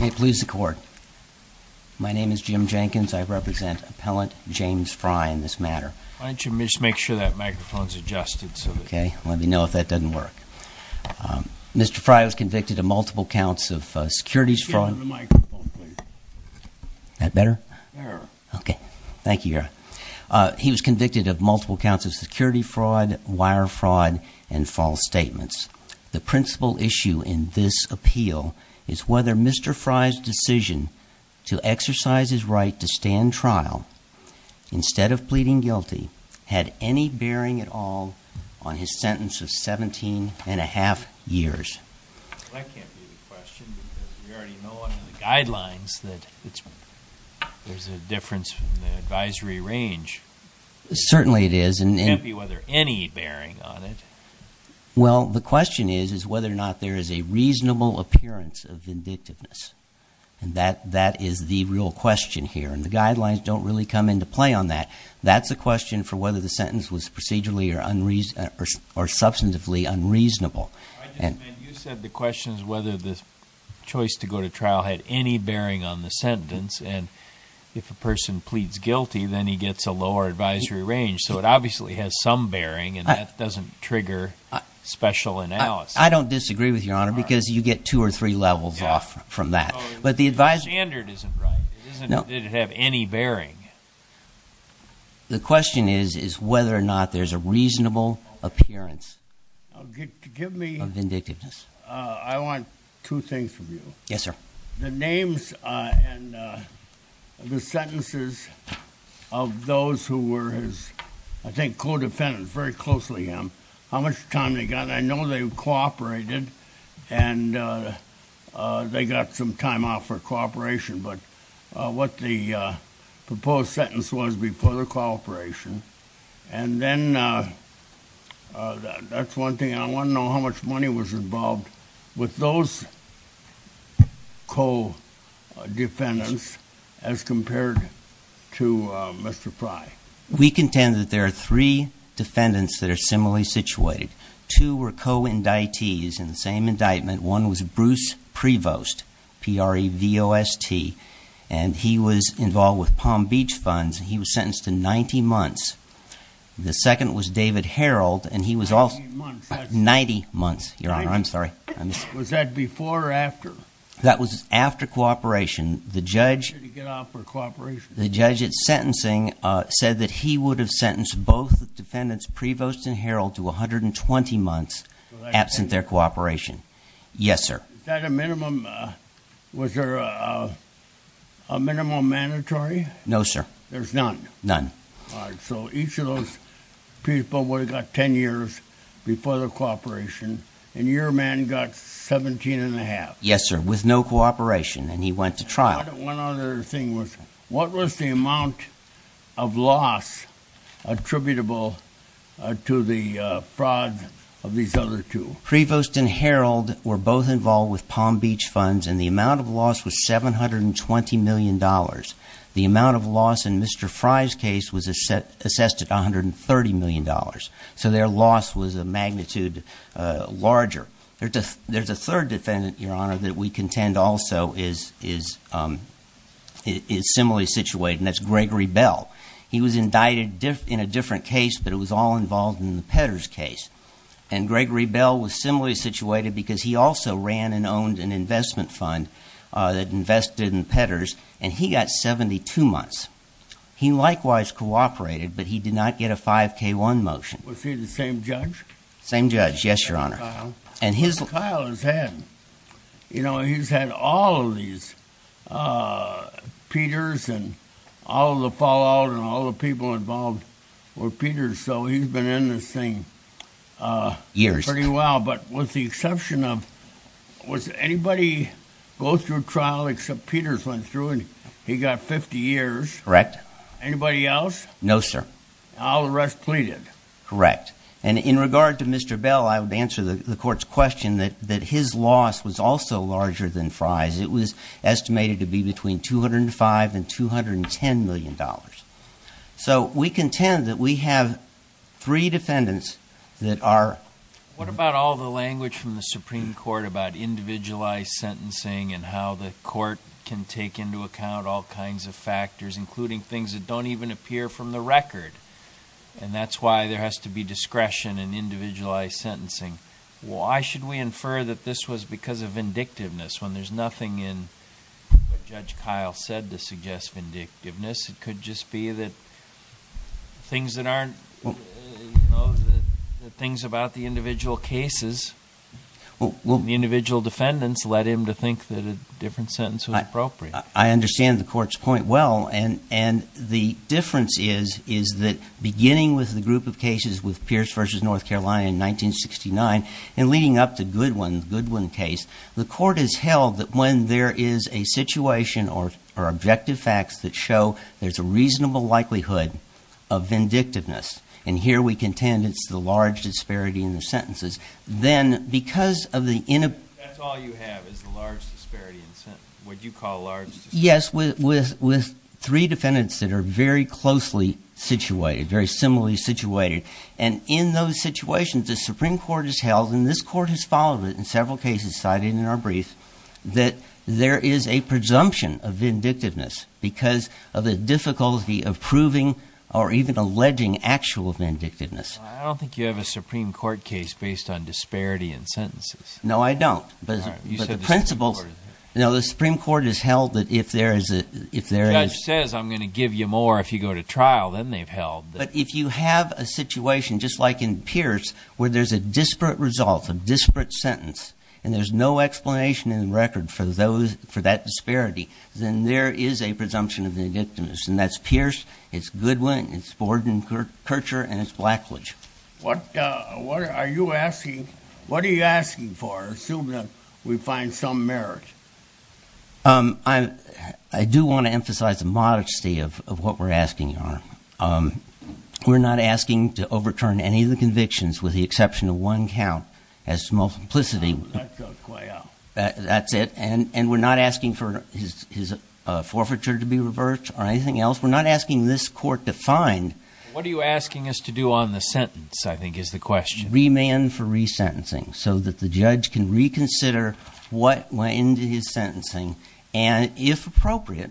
Mr. Fry was convicted of multiple counts of security fraud, wire fraud, and false statements. The principal issue in this appeal is whether Mr. Fry's decision to exercise his right to stand trial, instead of pleading guilty, had any bearing at all on his sentence of 17 and a half years. That can't be the question, because we already know under the guidelines that there's a difference in the advisory range. Certainly it is. It can't be whether any bearing on it. Well, the question is, is whether or not there is a reasonable appearance of vindictiveness. And that is the real question here. And the guidelines don't really come into play on that. That's a question for whether the sentence was procedurally or substantively unreasonable. You said the question is whether the choice to go to trial had any bearing on the sentence. And if a person pleads guilty, then he gets a lower advisory range. So it obviously has some bearing, and that doesn't trigger special analysis. I don't disagree with you, Your Honor, because you get two or three levels off from that. The standard isn't right. No. It doesn't have any bearing. The question is, is whether or not there's a reasonable appearance of vindictiveness. I want two things from you. Yes, sir. The names and the sentences of those who were his, I think, co-defendants, very closely him, how much time they got. And I know they cooperated, and they got some time off for cooperation. But what the proposed sentence was before the cooperation, and then that's one thing. I want to know how much money was involved with those co-defendants as compared to Mr. Frye. We contend that there are three defendants that are similarly situated. Two were co-indictees in the same indictment. One was Bruce Prevost, P-R-E-V-O-S-T, and he was involved with Palm Beach Funds. He was sentenced to 90 months. The second was David Herold, and he was also 90 months, Your Honor. I'm sorry. Was that before or after? That was after cooperation. The judge at sentencing said that he would have sentenced both the defendants, Prevost and Herold, to 120 months absent their cooperation. Yes, sir. Is that a minimum? Was there a minimum mandatory? No, sir. There's none? None. All right. So each of those people would have got 10 years before the cooperation, and your man got 17 1⁄2. Yes, sir, with no cooperation, and he went to trial. One other thing was what was the amount of loss attributable to the fraud of these other two? Prevost and Herold were both involved with Palm Beach Funds, and the amount of loss was $720 million. The amount of loss in Mr. Frye's case was assessed at $130 million, so their loss was a magnitude larger. There's a third defendant, Your Honor, that we contend also is similarly situated, and that's Gregory Bell. He was indicted in a different case, but it was all involved in the Petters case, and Gregory Bell was similarly situated because he also ran and owned an investment fund that invested in Petters, and he got 72 months. He likewise cooperated, but he did not get a 5K1 motion. Was he the same judge? Same judge, yes, Your Honor. Mr. Kyle has had all of these Petters and all of the fallout and all the people involved with Petters, so he's been in this thing pretty well, but with the exception of was anybody go through trial except Petters went through, and he got 50 years? Correct. Anybody else? No, sir. All the rest pleaded? Correct. And in regard to Mr. Bell, I would answer the court's question that his loss was also larger than Frye's. It was estimated to be between $205 and $210 million. So we contend that we have three defendants that are What about all the language from the Supreme Court about individualized sentencing and how the court can take into account all kinds of factors, including things that don't even appear from the record? And that's why there has to be discretion in individualized sentencing. Why should we infer that this was because of vindictiveness when there's nothing in what Judge Kyle said to suggest vindictiveness? It could just be that things about the individual cases, the individual defendants led him to think that a different sentence was appropriate. I understand the court's point well, and the difference is that beginning with the group of cases with Pierce v. North Carolina in 1969 and leading up to Goodwin, the Goodwin case, the court has held that when there is a situation or objective facts that show there's a reasonable likelihood of vindictiveness, and here we contend it's the large disparity in the sentences, then because of the That's all you have is the large disparity in the sentence, what you call a large disparity. Yes, with three defendants that are very closely situated, very similarly situated. And in those situations, the Supreme Court has held, and this court has followed it in several cases cited in our brief, that there is a presumption of vindictiveness because of the difficulty of proving or even alleging actual vindictiveness. I don't think you have a Supreme Court case based on disparity in sentences. No, I don't. But the principles, you know, the Supreme Court has held that if there is a The judge says I'm going to give you more if you go to trial, then they've held that But if you have a situation just like in Pierce where there's a disparate result, a disparate sentence, and there's no explanation in the record for that disparity, then there is a presumption of vindictiveness. And that's Pierce, it's Goodwin, it's Borden, Kircher, and it's Blackledge. What are you asking for, assuming that we find some merit? I do want to emphasize the modesty of what we're asking, Your Honor. We're not asking to overturn any of the convictions with the exception of one count as to multiplicity. That goes way out. That's it. And we're not asking for his forfeiture to be reversed or anything else. We're not asking this court to find What are you asking us to do on the sentence, I think is the question. Remand for resentencing so that the judge can reconsider what went into his sentencing and, if appropriate,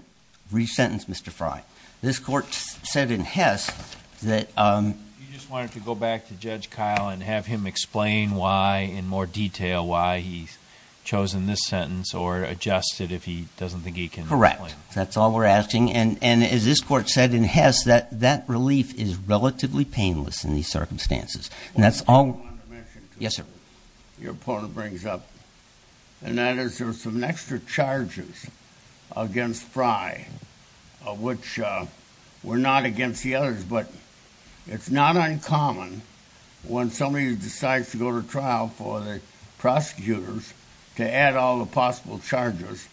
resentence Mr. Frye. This court said in Hess that You just wanted to go back to Judge Kyle and have him explain why, in more detail, why he's chosen this sentence or adjust it if he doesn't think he can. Correct. That's all we're asking. And, as this court said in Hess, that relief is relatively painless in these circumstances. And that's all Your opponent brings up, and that is there's some extra charges against Frye, which were not against the others. But it's not uncommon when somebody decides to go to trial for the prosecutors to add all the possible charges.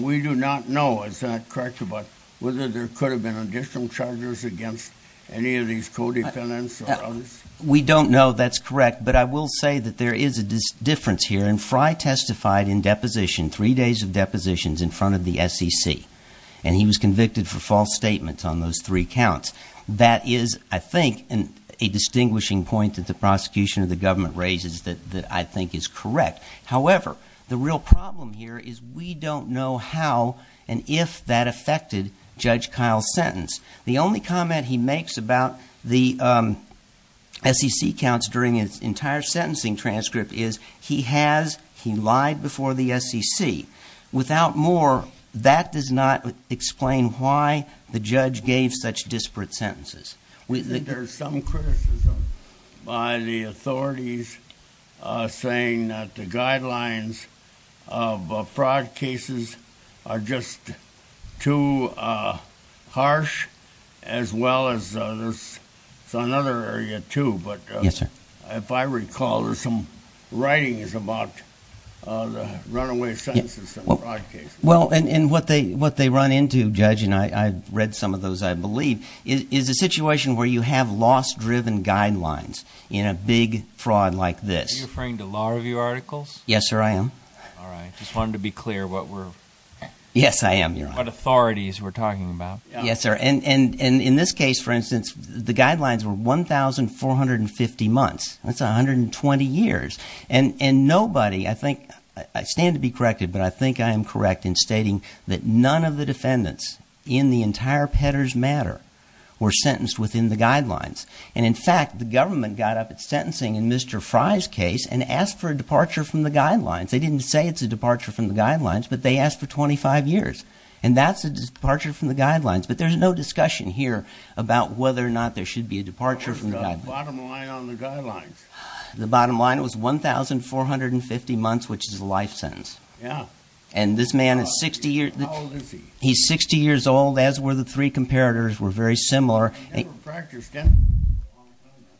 We do not know, is that correct, about whether there could have been additional charges against any of these co-defendants or others? We don't know that's correct, but I will say that there is a difference here. And Frye testified in deposition, three days of depositions, in front of the SEC. And he was convicted for false statements on those three counts. That is, I think, a distinguishing point that the prosecution or the government raises that I think is correct. However, the real problem here is we don't know how and if that affected Judge Kyle's sentence. The only comment he makes about the SEC counts during his entire sentencing transcript is he has, he lied before the SEC. Without more, that does not explain why the judge gave such disparate sentences. There's some criticism by the authorities saying that the guidelines of fraud cases are just too harsh, as well as there's another area, too. But if I recall, there's some writings about the runaway sentences and fraud cases. Well, and what they run into, Judge, and I've read some of those, I believe, is a situation where you have loss-driven guidelines in a big fraud like this. Are you referring to law review articles? Yes, sir, I am. All right. Just wanted to be clear what we're – Yes, I am, Your Honor. What authorities we're talking about. Yes, sir. And in this case, for instance, the guidelines were 1,450 months. That's 120 years. And nobody, I think – I stand to be corrected, but I think I am correct in stating that none of the defendants in the entire Petters matter were sentenced within the guidelines. And, in fact, the government got up at sentencing in Mr. Frye's case and asked for a departure from the guidelines. They didn't say it's a departure from the guidelines, but they asked for 25 years. And that's a departure from the guidelines. But there's no discussion here about whether or not there should be a departure from the guidelines. What was the bottom line on the guidelines? The bottom line was 1,450 months, which is a life sentence. Yeah. And this man is 60 years – How old is he? He's 60 years old. As were the three comparators, were very similar. He never practiced, did he?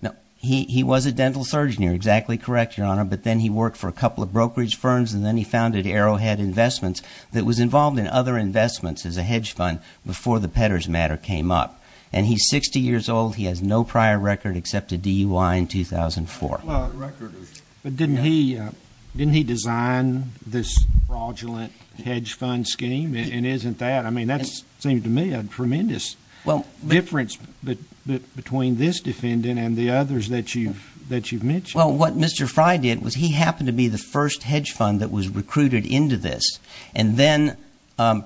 No. He was a dental surgeon. You're exactly correct, Your Honor. But then he worked for a couple of brokerage firms, and then he founded Arrowhead Investments that was involved in other investments as a hedge fund before the Petters matter came up. And he's 60 years old. He has no prior record except a DUI in 2004. But didn't he design this fraudulent hedge fund scheme? And isn't that – I mean, that seems to me a tremendous difference between this defendant and the others that you've mentioned. Well, what Mr. Frye did was he happened to be the first hedge fund that was recruited into this. And then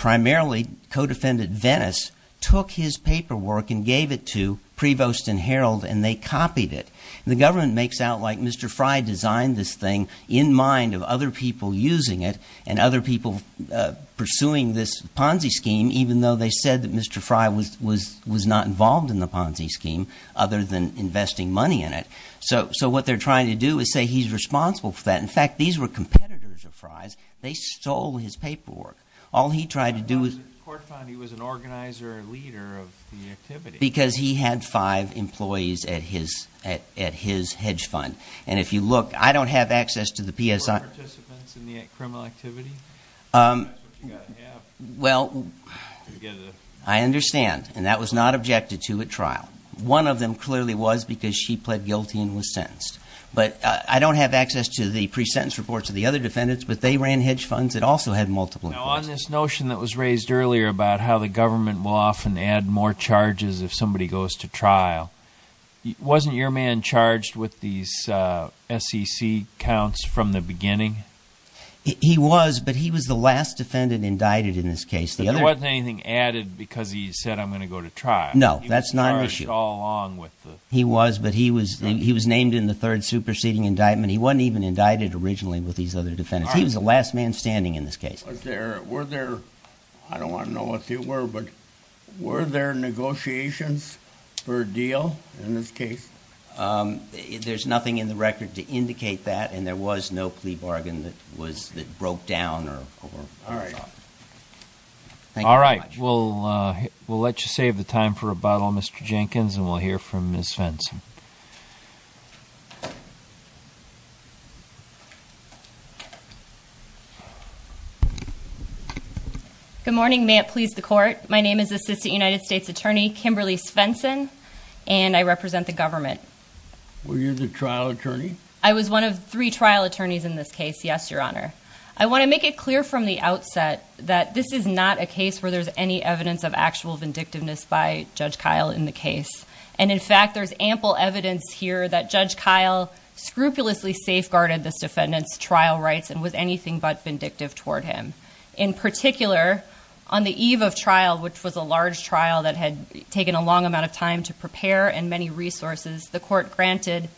primarily co-defendant Venice took his paperwork and gave it to Prevost and Herald, and they copied it. And the government makes out like Mr. Frye designed this thing in mind of other people using it and other people pursuing this Ponzi scheme, even though they said that Mr. Frye was not involved in the Ponzi scheme other than investing money in it. So what they're trying to do is say he's responsible for that. In fact, these were competitors of Frye's. They stole his paperwork. All he tried to do was – The court found he was an organizer, a leader of the activity. Because he had five employees at his hedge fund. And if you look, I don't have access to the PSI – Or participants in the criminal activity. That's what you've got to have. Well, I understand. And that was not objected to at trial. One of them clearly was because she pled guilty and was sentenced. But I don't have access to the pre-sentence reports of the other defendants, but they ran hedge funds that also had multiple inquiries. Now, on this notion that was raised earlier about how the government will often add more charges if somebody goes to trial, wasn't your man charged with these SEC counts from the beginning? He was, but he was the last defendant indicted in this case. There wasn't anything added because he said, I'm going to go to trial. No, that's not an issue. He was charged all along with the – He was, but he was named in the third superseding indictment. He wasn't even indicted originally with these other defendants. He was the last man standing in this case. Were there – I don't want to know what they were, but were there negotiations for a deal in this case? There's nothing in the record to indicate that, and there was no plea bargain that broke down or – All right. All right. We'll let you save the time for rebuttal, Mr. Jenkins, and we'll hear from Ms. Fenson. Good morning. May it please the Court. My name is Assistant United States Attorney Kimberly Fenson, and I represent the government. Were you the trial attorney? I was one of three trial attorneys in this case, yes, Your Honor. I want to make it clear from the outset that this is not a case where there's any evidence of actual vindictiveness by Judge Kyle in the case. And, in fact, there's ample evidence here that Judge Kyle scrupulously safeguarded this defendant's trial rights and was anything but vindictive toward him. In particular, on the eve of trial, which was a large trial that had taken a long amount of time to prepare and many resources, the Court granted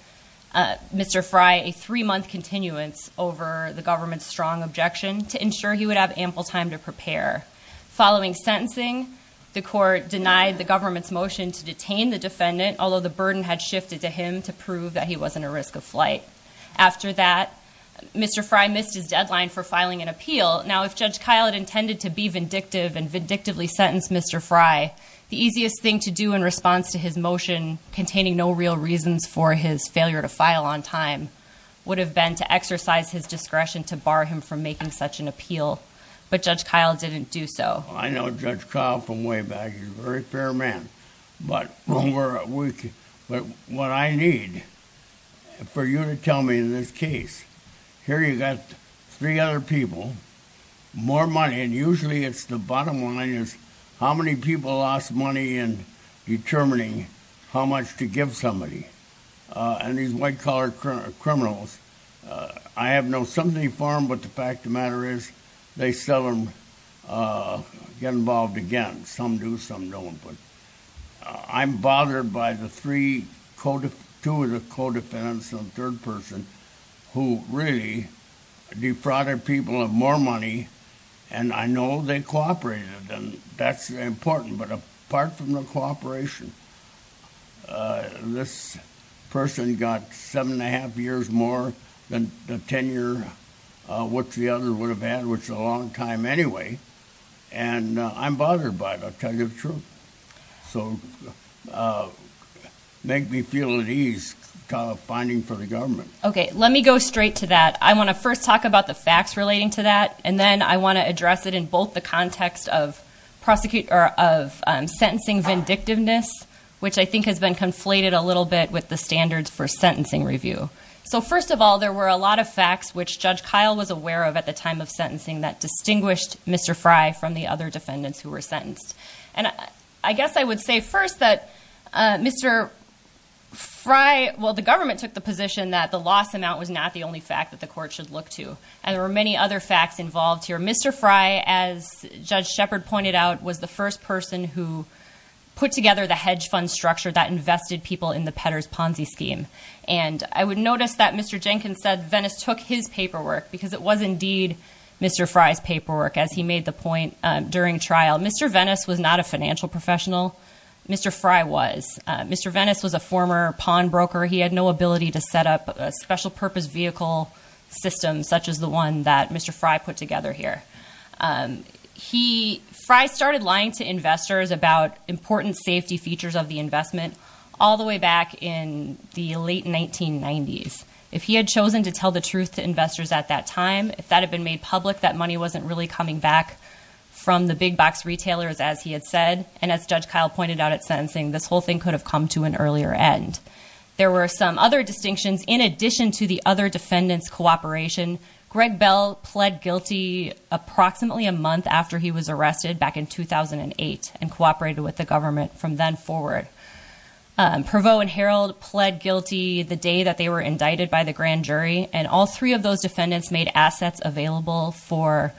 Mr. Fry a three-month continuance over the government's strong objection to ensure he would have ample time to prepare. Following sentencing, the Court denied the government's motion to detain the defendant, although the burden had shifted to him to prove that he wasn't a risk of flight. After that, Mr. Fry missed his deadline for filing an appeal. Now, if Judge Kyle had intended to be vindictive and vindictively sentence Mr. Fry, the easiest thing to do in response to his motion containing no real reasons for his failure to file on time would have been to exercise his discretion to bar him from making such an appeal. But Judge Kyle didn't do so. I know Judge Kyle from way back. He's a very fair man. But what I need for you to tell me in this case, here you've got three other people, more money, and usually it's the bottom line is how many people lost money in determining how much to give somebody. And these white-collar criminals, I have no sympathy for them, but the fact of the matter is they seldom get involved again. Some do, some don't. But I'm bothered by the two of the co-defendants and the third person who really defrauded people of more money, and I know they cooperated, and that's important, but apart from the cooperation, this person got seven and a half years more than the tenure which the other would have had, which is a long time anyway, and I'm bothered by it, I'll tell you the truth. So make me feel at ease finding for the government. Okay, let me go straight to that. I want to first talk about the facts relating to that, and then I want to address it in both the context of sentencing vindictiveness, which I think has been conflated a little bit with the standards for sentencing review. So first of all, there were a lot of facts which Judge Kyle was aware of at the time of sentencing that distinguished Mr. Frey from the other defendants who were sentenced. And I guess I would say first that Mr. Frey, well, the government took the position that the loss amount was not the only fact that the court should look to, and there were many other facts involved here. Mr. Frey, as Judge Shepard pointed out, was the first person who put together the hedge fund structure that invested people in the Petters Ponzi scheme. And I would notice that Mr. Jenkins said Venice took his paperwork because it was indeed Mr. Frey's paperwork, as he made the point during trial. Mr. Venice was not a financial professional. Mr. Frey was. Mr. Venice was a former pawnbroker. He had no ability to set up a special purpose vehicle system such as the one that Mr. Frey put together here. Frey started lying to investors about important safety features of the investment all the way back in the late 1990s. If he had chosen to tell the truth to investors at that time, if that had been made public, that money wasn't really coming back from the big box retailers, as he had said. And as Judge Kyle pointed out at sentencing, this whole thing could have come to an earlier end. There were some other distinctions. In addition to the other defendants' cooperation, Greg Bell pled guilty approximately a month after he was arrested, back in 2008, and cooperated with the government from then forward. Prevost and Herald pled guilty the day that they were indicted by the grand jury, and all three of those defendants made assets available for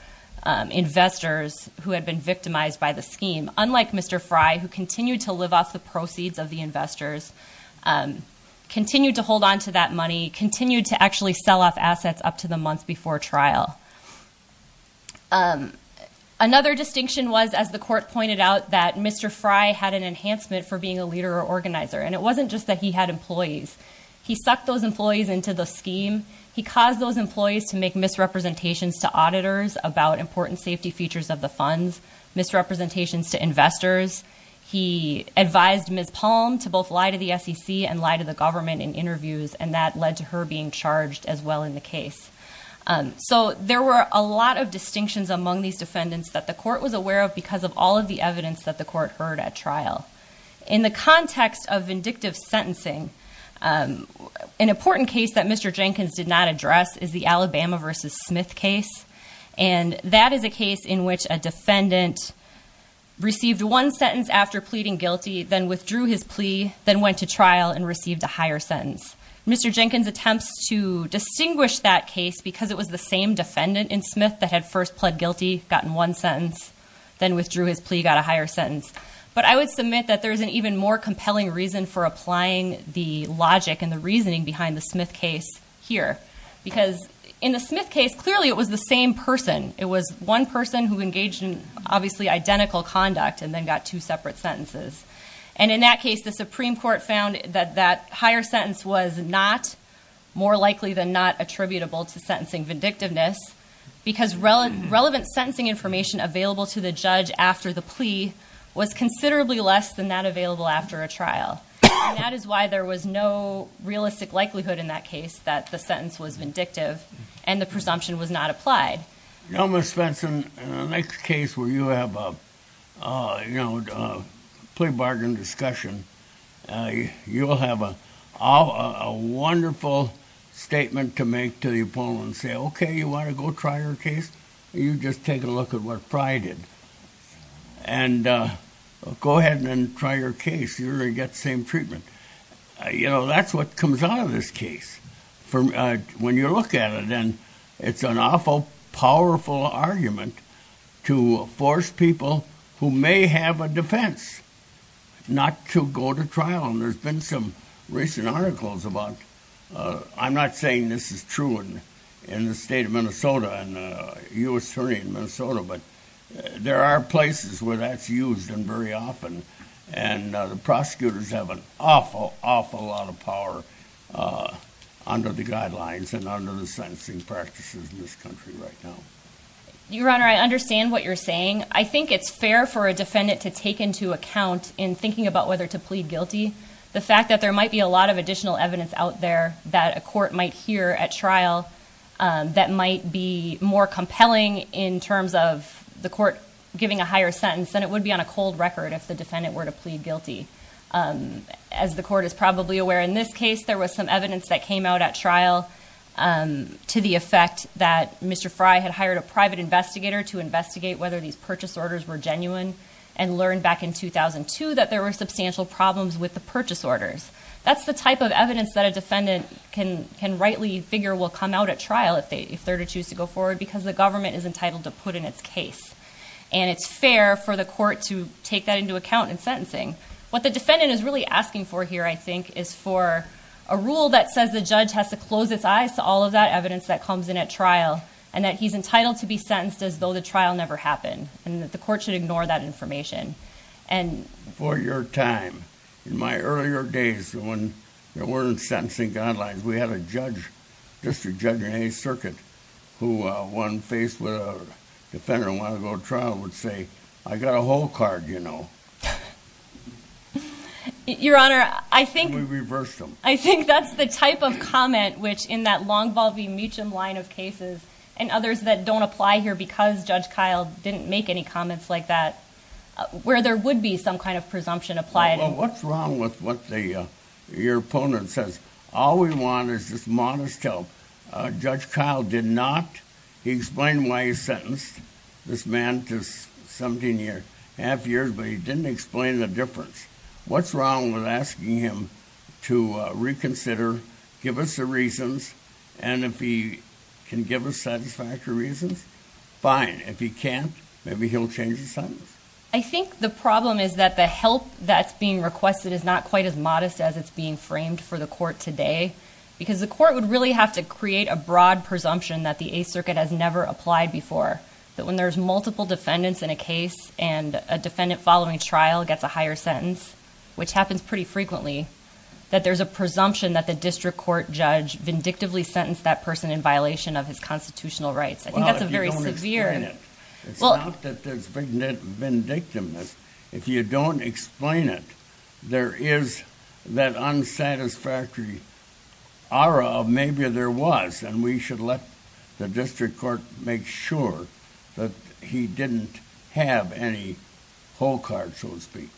investors who had been victimized by the scheme. Unlike Mr. Frey, who continued to live off the proceeds of the investors, continued to hold on to that money, continued to actually sell off assets up to the month before trial. Another distinction was, as the court pointed out, that Mr. Frey had an enhancement for being a leader or organizer, and it wasn't just that he had employees. He sucked those employees into the scheme. He caused those employees to make misrepresentations to auditors about important safety features of the funds, misrepresentations to investors. He advised Ms. Palm to both lie to the SEC and lie to the government in interviews, and that led to her being charged as well in the case. So there were a lot of distinctions among these defendants that the court was aware of because of all of the evidence that the court heard at trial. In the context of vindictive sentencing, an important case that Mr. Jenkins did not address is the Alabama v. Smith case, and that is a case in which a defendant received one sentence after pleading guilty, then withdrew his plea, then went to trial and received a higher sentence. Mr. Jenkins attempts to distinguish that case because it was the same defendant in Smith that had first pled guilty, gotten one sentence, then withdrew his plea, got a higher sentence. But I would submit that there is an even more compelling reason for applying the logic and the reasoning behind the Smith case here because in the Smith case, clearly it was the same person. It was one person who engaged in obviously identical conduct and then got two separate sentences. And in that case, the Supreme Court found that that higher sentence was not more likely than not attributable to sentencing vindictiveness because relevant sentencing information available to the judge after the plea was considerably less than that available after a trial. And that is why there was no realistic likelihood in that case that the sentence was vindictive and the presumption was not applied. You know, Ms. Spence, in the next case where you have a plea bargain discussion, you'll have a wonderful statement to make to the opponent and say, okay, you want to go try your case? You just take a look at what Fry did. And go ahead and try your case. You're going to get the same treatment. You know, that's what comes out of this case when you look at it. And it's an awful powerful argument to force people who may have a defense not to go to trial. And there's been some recent articles about, I'm not saying this is true in the state of Minnesota, and U.S. Attorney in Minnesota, but there are places where that's used and very often. And the prosecutors have an awful, awful lot of power under the guidelines and under the sentencing practices in this country right now. Your Honor, I understand what you're saying. I think it's fair for a defendant to take into account in thinking about whether to plead guilty the fact that there might be a lot of additional evidence out there that a court might hear at trial that might be more compelling in terms of the court giving a higher sentence than it would be on a cold record if the defendant were to plead guilty. As the court is probably aware in this case, there was some evidence that came out at trial to the effect that Mr. Fry had hired a private investigator to investigate whether these purchase orders were genuine and learned back in 2002 that there were substantial problems with the purchase orders. That's the type of evidence that a defendant can rightly figure will come out at trial if they're to choose to go forward because the government is entitled to put in its case. And it's fair for the court to take that into account in sentencing. What the defendant is really asking for here, I think, is for a rule that says the judge has to close its eyes to all of that evidence that comes in at trial and that he's entitled to be sentenced as though the trial never happened and that the court should ignore that information. For your time, in my earlier days when there weren't sentencing guidelines, we had a judge, just a judge in any circuit, who, when faced with a defendant and wanted to go to trial, would say, I got a whole card, you know. And we reversed them. I think that's the type of comment which, in that long, bulby Meechum line of cases and others that don't apply here because Judge Kyle didn't make any comments like that, where there would be some kind of presumption applied. Well, what's wrong with what your opponent says? All we want is just modest help. Judge Kyle did not. He explained why he sentenced this man to 17 and a half years, but he didn't explain the difference. What's wrong with asking him to reconsider, give us the reasons, and if he can give us satisfactory reasons, fine. If he can't, maybe he'll change his sentence. I think the problem is that the help that's being requested is not quite as modest as it's being framed for the court today because the court would really have to create a broad presumption that the Eighth Circuit has never applied before, that when there's multiple defendants in a case and a defendant following trial gets a higher sentence, which happens pretty frequently, that there's a presumption that the district court judge vindictively sentenced that person in violation of his constitutional rights. I think that's a very severe... Well, if you don't explain it, it's not that there's vindictiveness. If you don't explain it, there is that unsatisfactory aura of maybe there was, and we should let the district court make sure that he didn't have any whole cards, so to speak.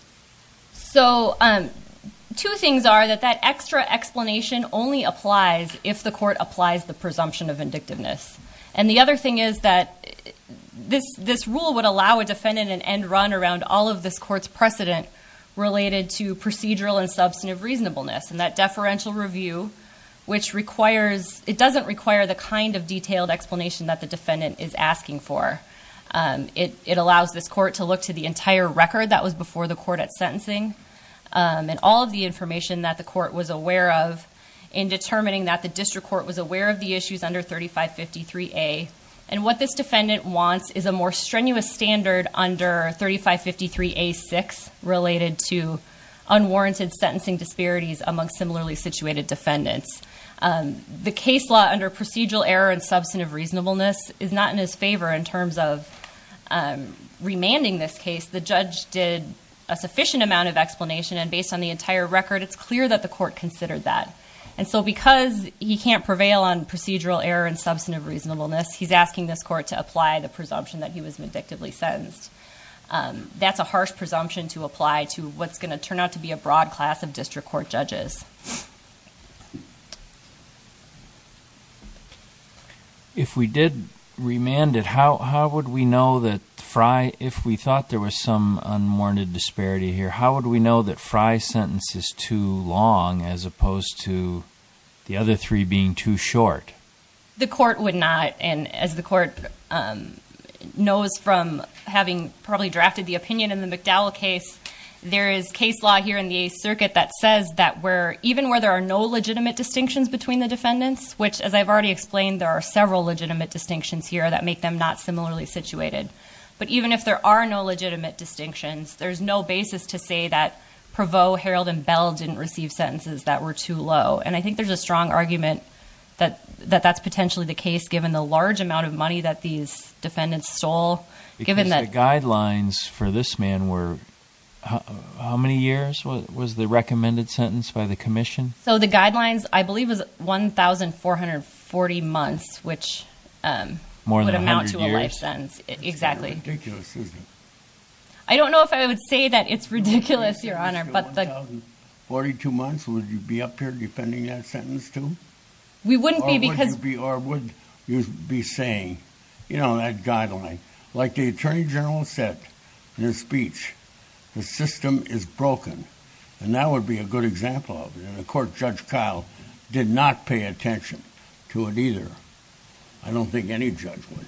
Two things are that that extra explanation only applies if the court applies the presumption of vindictiveness, and the other thing is that this rule would allow a defendant an end run around all of this court's precedent related to procedural and substantive reasonableness, and that deferential review doesn't require the kind of detailed explanation that the defendant is asking for. It allows this court to look to the entire record that was before the court at sentencing and all of the information that the court was aware of in determining that the district court was aware of the issues under 3553A, and what this defendant wants is a more strenuous standard under 3553A6 related to unwarranted sentencing disparities among similarly situated defendants. The case law under procedural error and substantive reasonableness is not in his favor in terms of remanding this case. The judge did a sufficient amount of explanation, and based on the entire record, it's clear that the court considered that, and so because he can't prevail on procedural error and substantive reasonableness, he's asking this court to apply the presumption that he was vindictively sentenced. That's a harsh presumption to apply to what's going to turn out to be a broad class of district court judges. If we did remand it, how would we know that Frye, if we thought there was some unwarranted disparity here, how would we know that Frye's sentence is too long as opposed to the other three being too short? The court would not, and as the court knows from having probably drafted the opinion in the McDowell case, there is case law here in the Eighth Circuit that says that even where there are no legitimate distinctions between the defendants, which as I've already explained, there are several legitimate distinctions here that make them not similarly situated, but even if there are no legitimate distinctions, there's no basis to say that Prevost, Herald, and Bell didn't receive sentences that were too low, and I think there's a strong argument that that's potentially the case, given the large amount of money that these defendants stole. Because the guidelines for this man were, how many years was the recommended sentence by the commission? So the guidelines, I believe, was 1,440 months, which would amount to a life sentence. More than 100 years? Exactly. Ridiculous, isn't it? I don't know if I would say that it's ridiculous, Your Honor. 1,042 months, would you be up here defending that sentence, too? We wouldn't be because— Or would you be saying, you know, that guideline? Like the Attorney General said in his speech, the system is broken, and that would be a good example of it. And of course, Judge Kyle did not pay attention to it either. I don't think any judge would.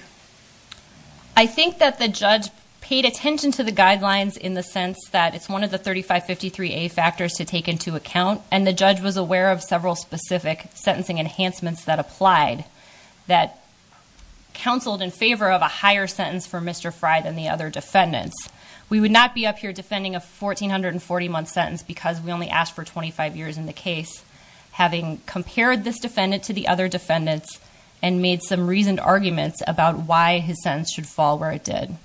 I think that the judge paid attention to the guidelines in the sense that it's one of the 3553A factors to take into account, and the judge was aware of several specific sentencing enhancements that applied, that counseled in favor of a higher sentence for Mr. Fry than the other defendants. We would not be up here defending a 1,440-month sentence because we only asked for 25 years in the case. Having compared this defendant to the other defendants and made some reasoned arguments about why his sentence should fall where it did.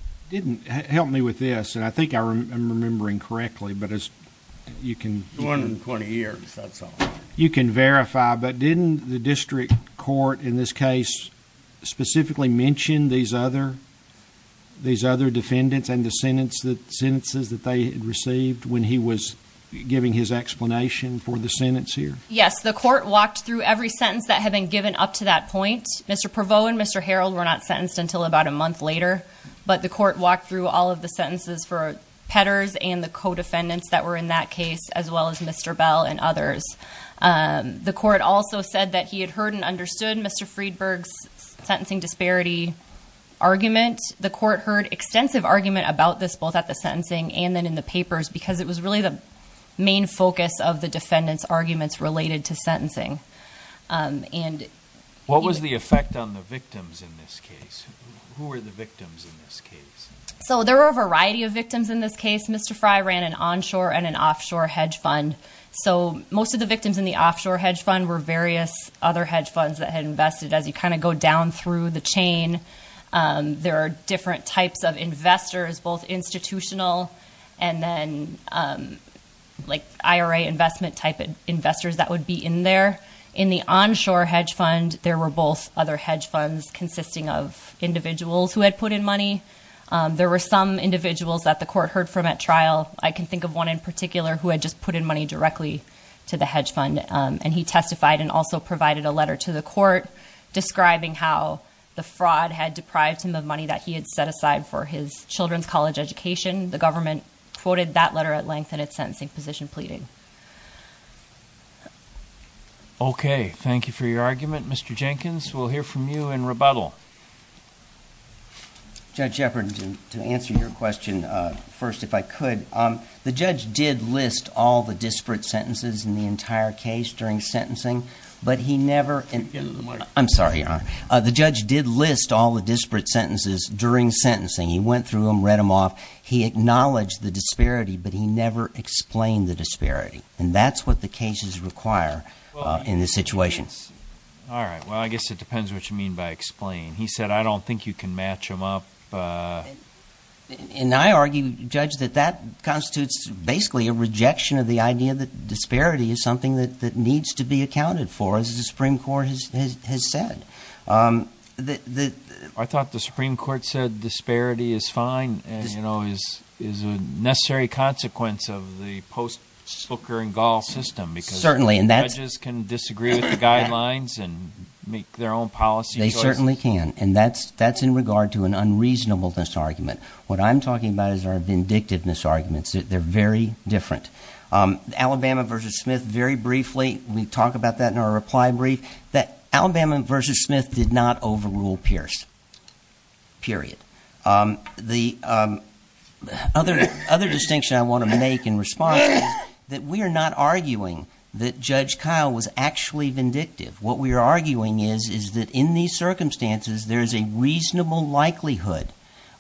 Help me with this, and I think I'm remembering correctly, but you can... 220 years, that's all. You can verify, but didn't the district court in this case specifically mention these other defendants and the sentences that they had received when he was giving his explanation for the sentence here? Yes, the court walked through every sentence that had been given up to that point. Mr. Prevost and Mr. Harold were not sentenced until about a month later, but the court walked through all of the sentences for Petters and the co-defendants that were in that case, as well as Mr. Bell and others. The court also said that he had heard and understood Mr. Friedberg's sentencing disparity argument. The court heard extensive argument about this both at the sentencing and then in the papers because it was really the main focus of the defendant's arguments related to sentencing. What was the effect on the victims in this case? Who were the victims in this case? There were a variety of victims in this case. Mr. Fry ran an onshore and an offshore hedge fund, so most of the victims in the offshore hedge fund were various other hedge funds that had invested. As you kind of go down through the chain, there are different types of investors, both institutional and then IRA investment type investors that would be in there. In the onshore hedge fund, there were both other hedge funds consisting of individuals who had put in money. There were some individuals that the court heard from at trial. I can think of one in particular who had just put in money directly to the hedge fund, and he testified and also provided a letter to the court describing how the fraud had deprived him of money that he had set aside for his children's college education. The government quoted that letter at length in its sentencing position pleading. Okay, thank you for your argument, Mr. Jenkins. We'll hear from you in rebuttal. Judge Shepard, to answer your question first if I could, the judge did list all the disparate sentences in the entire case during sentencing, but he never I'm sorry, Your Honor. The judge did list all the disparate sentences during sentencing. He went through them, read them off. He acknowledged the disparity, but he never explained the disparity, and that's what the cases require in this situation. All right, well, I guess it depends what you mean by explain. He said, I don't think you can match them up. And I argue, Judge, that that constitutes basically a rejection of the idea that disparity is something that needs to be accounted for, as the Supreme Court has said. I thought the Supreme Court said disparity is fine and, you know, is a necessary consequence of the post-Sooker and Gall system because judges can disagree with the guidelines and make their own policy choices. They can, and that's in regard to an unreasonableness argument. What I'm talking about is our vindictiveness arguments. They're very different. Alabama v. Smith, very briefly, we talk about that in our reply brief, that Alabama v. Smith did not overrule Pierce, period. The other distinction I want to make in response is that we are not arguing that Judge Kyle was actually vindictive. What we are arguing is, is that in these circumstances, there's a reasonable likelihood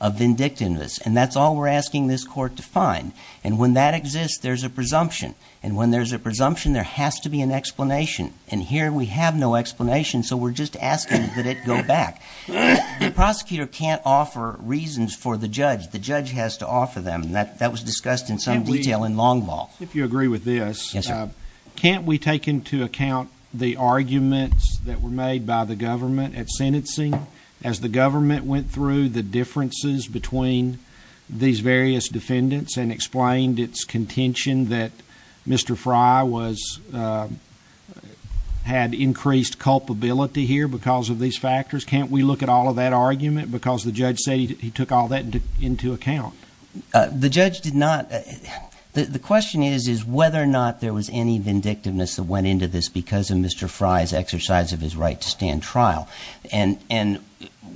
of vindictiveness. And that's all we're asking this court to find. And when that exists, there's a presumption. And when there's a presumption, there has to be an explanation. And here we have no explanation, so we're just asking that it go back. The prosecutor can't offer reasons for the judge. The judge has to offer them. And that was discussed in some detail in long ball. If you agree with this, can't we take into account the arguments that were made by the government at sentencing? As the government went through the differences between these various defendants and explained its contention that Mr. Fry had increased culpability here because of these factors, can't we look at all of that argument because the judge said he took all that into account? The judge did not. The question is whether or not there was any vindictiveness that went into this because of Mr. Fry's exercise of his right to stand trial. And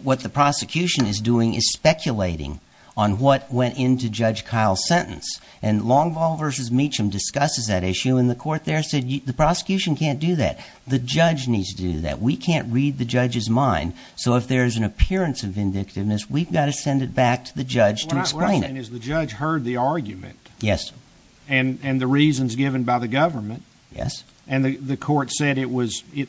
what the prosecution is doing is speculating on what went into Judge Kyle's sentence. And long ball versus Meacham discusses that issue, and the court there said the prosecution can't do that. The judge needs to do that. We can't read the judge's mind. So if there's an appearance of vindictiveness, we've got to send it back to the judge to explain it. What I'm saying is the judge heard the argument. Yes. And the reasons given by the government. Yes. And the court said,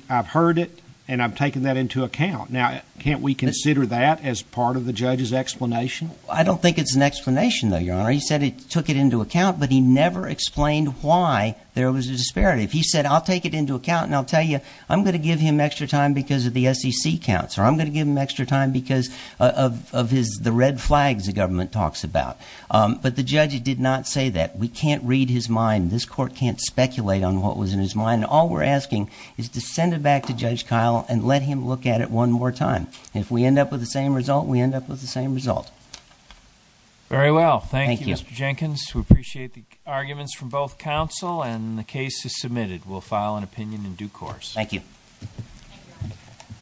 I've heard it, and I've taken that into account. Now, can't we consider that as part of the judge's explanation? I don't think it's an explanation, though, Your Honor. He said he took it into account, but he never explained why there was a disparity. If he said, I'll take it into account and I'll tell you, I'm going to give him extra time because of the SEC counts, or I'm going to give him extra time because of the red flags the government talks about. But the judge did not say that. We can't read his mind. This court can't speculate on what was in his mind. All we're asking is to send it back to Judge Kyle and let him look at it one more time. If we end up with the same result, we end up with the same result. Very well. Thank you, Mr. Jenkins. We appreciate the arguments from both counsel, and the case is submitted. We'll file an opinion in due course. Thank you.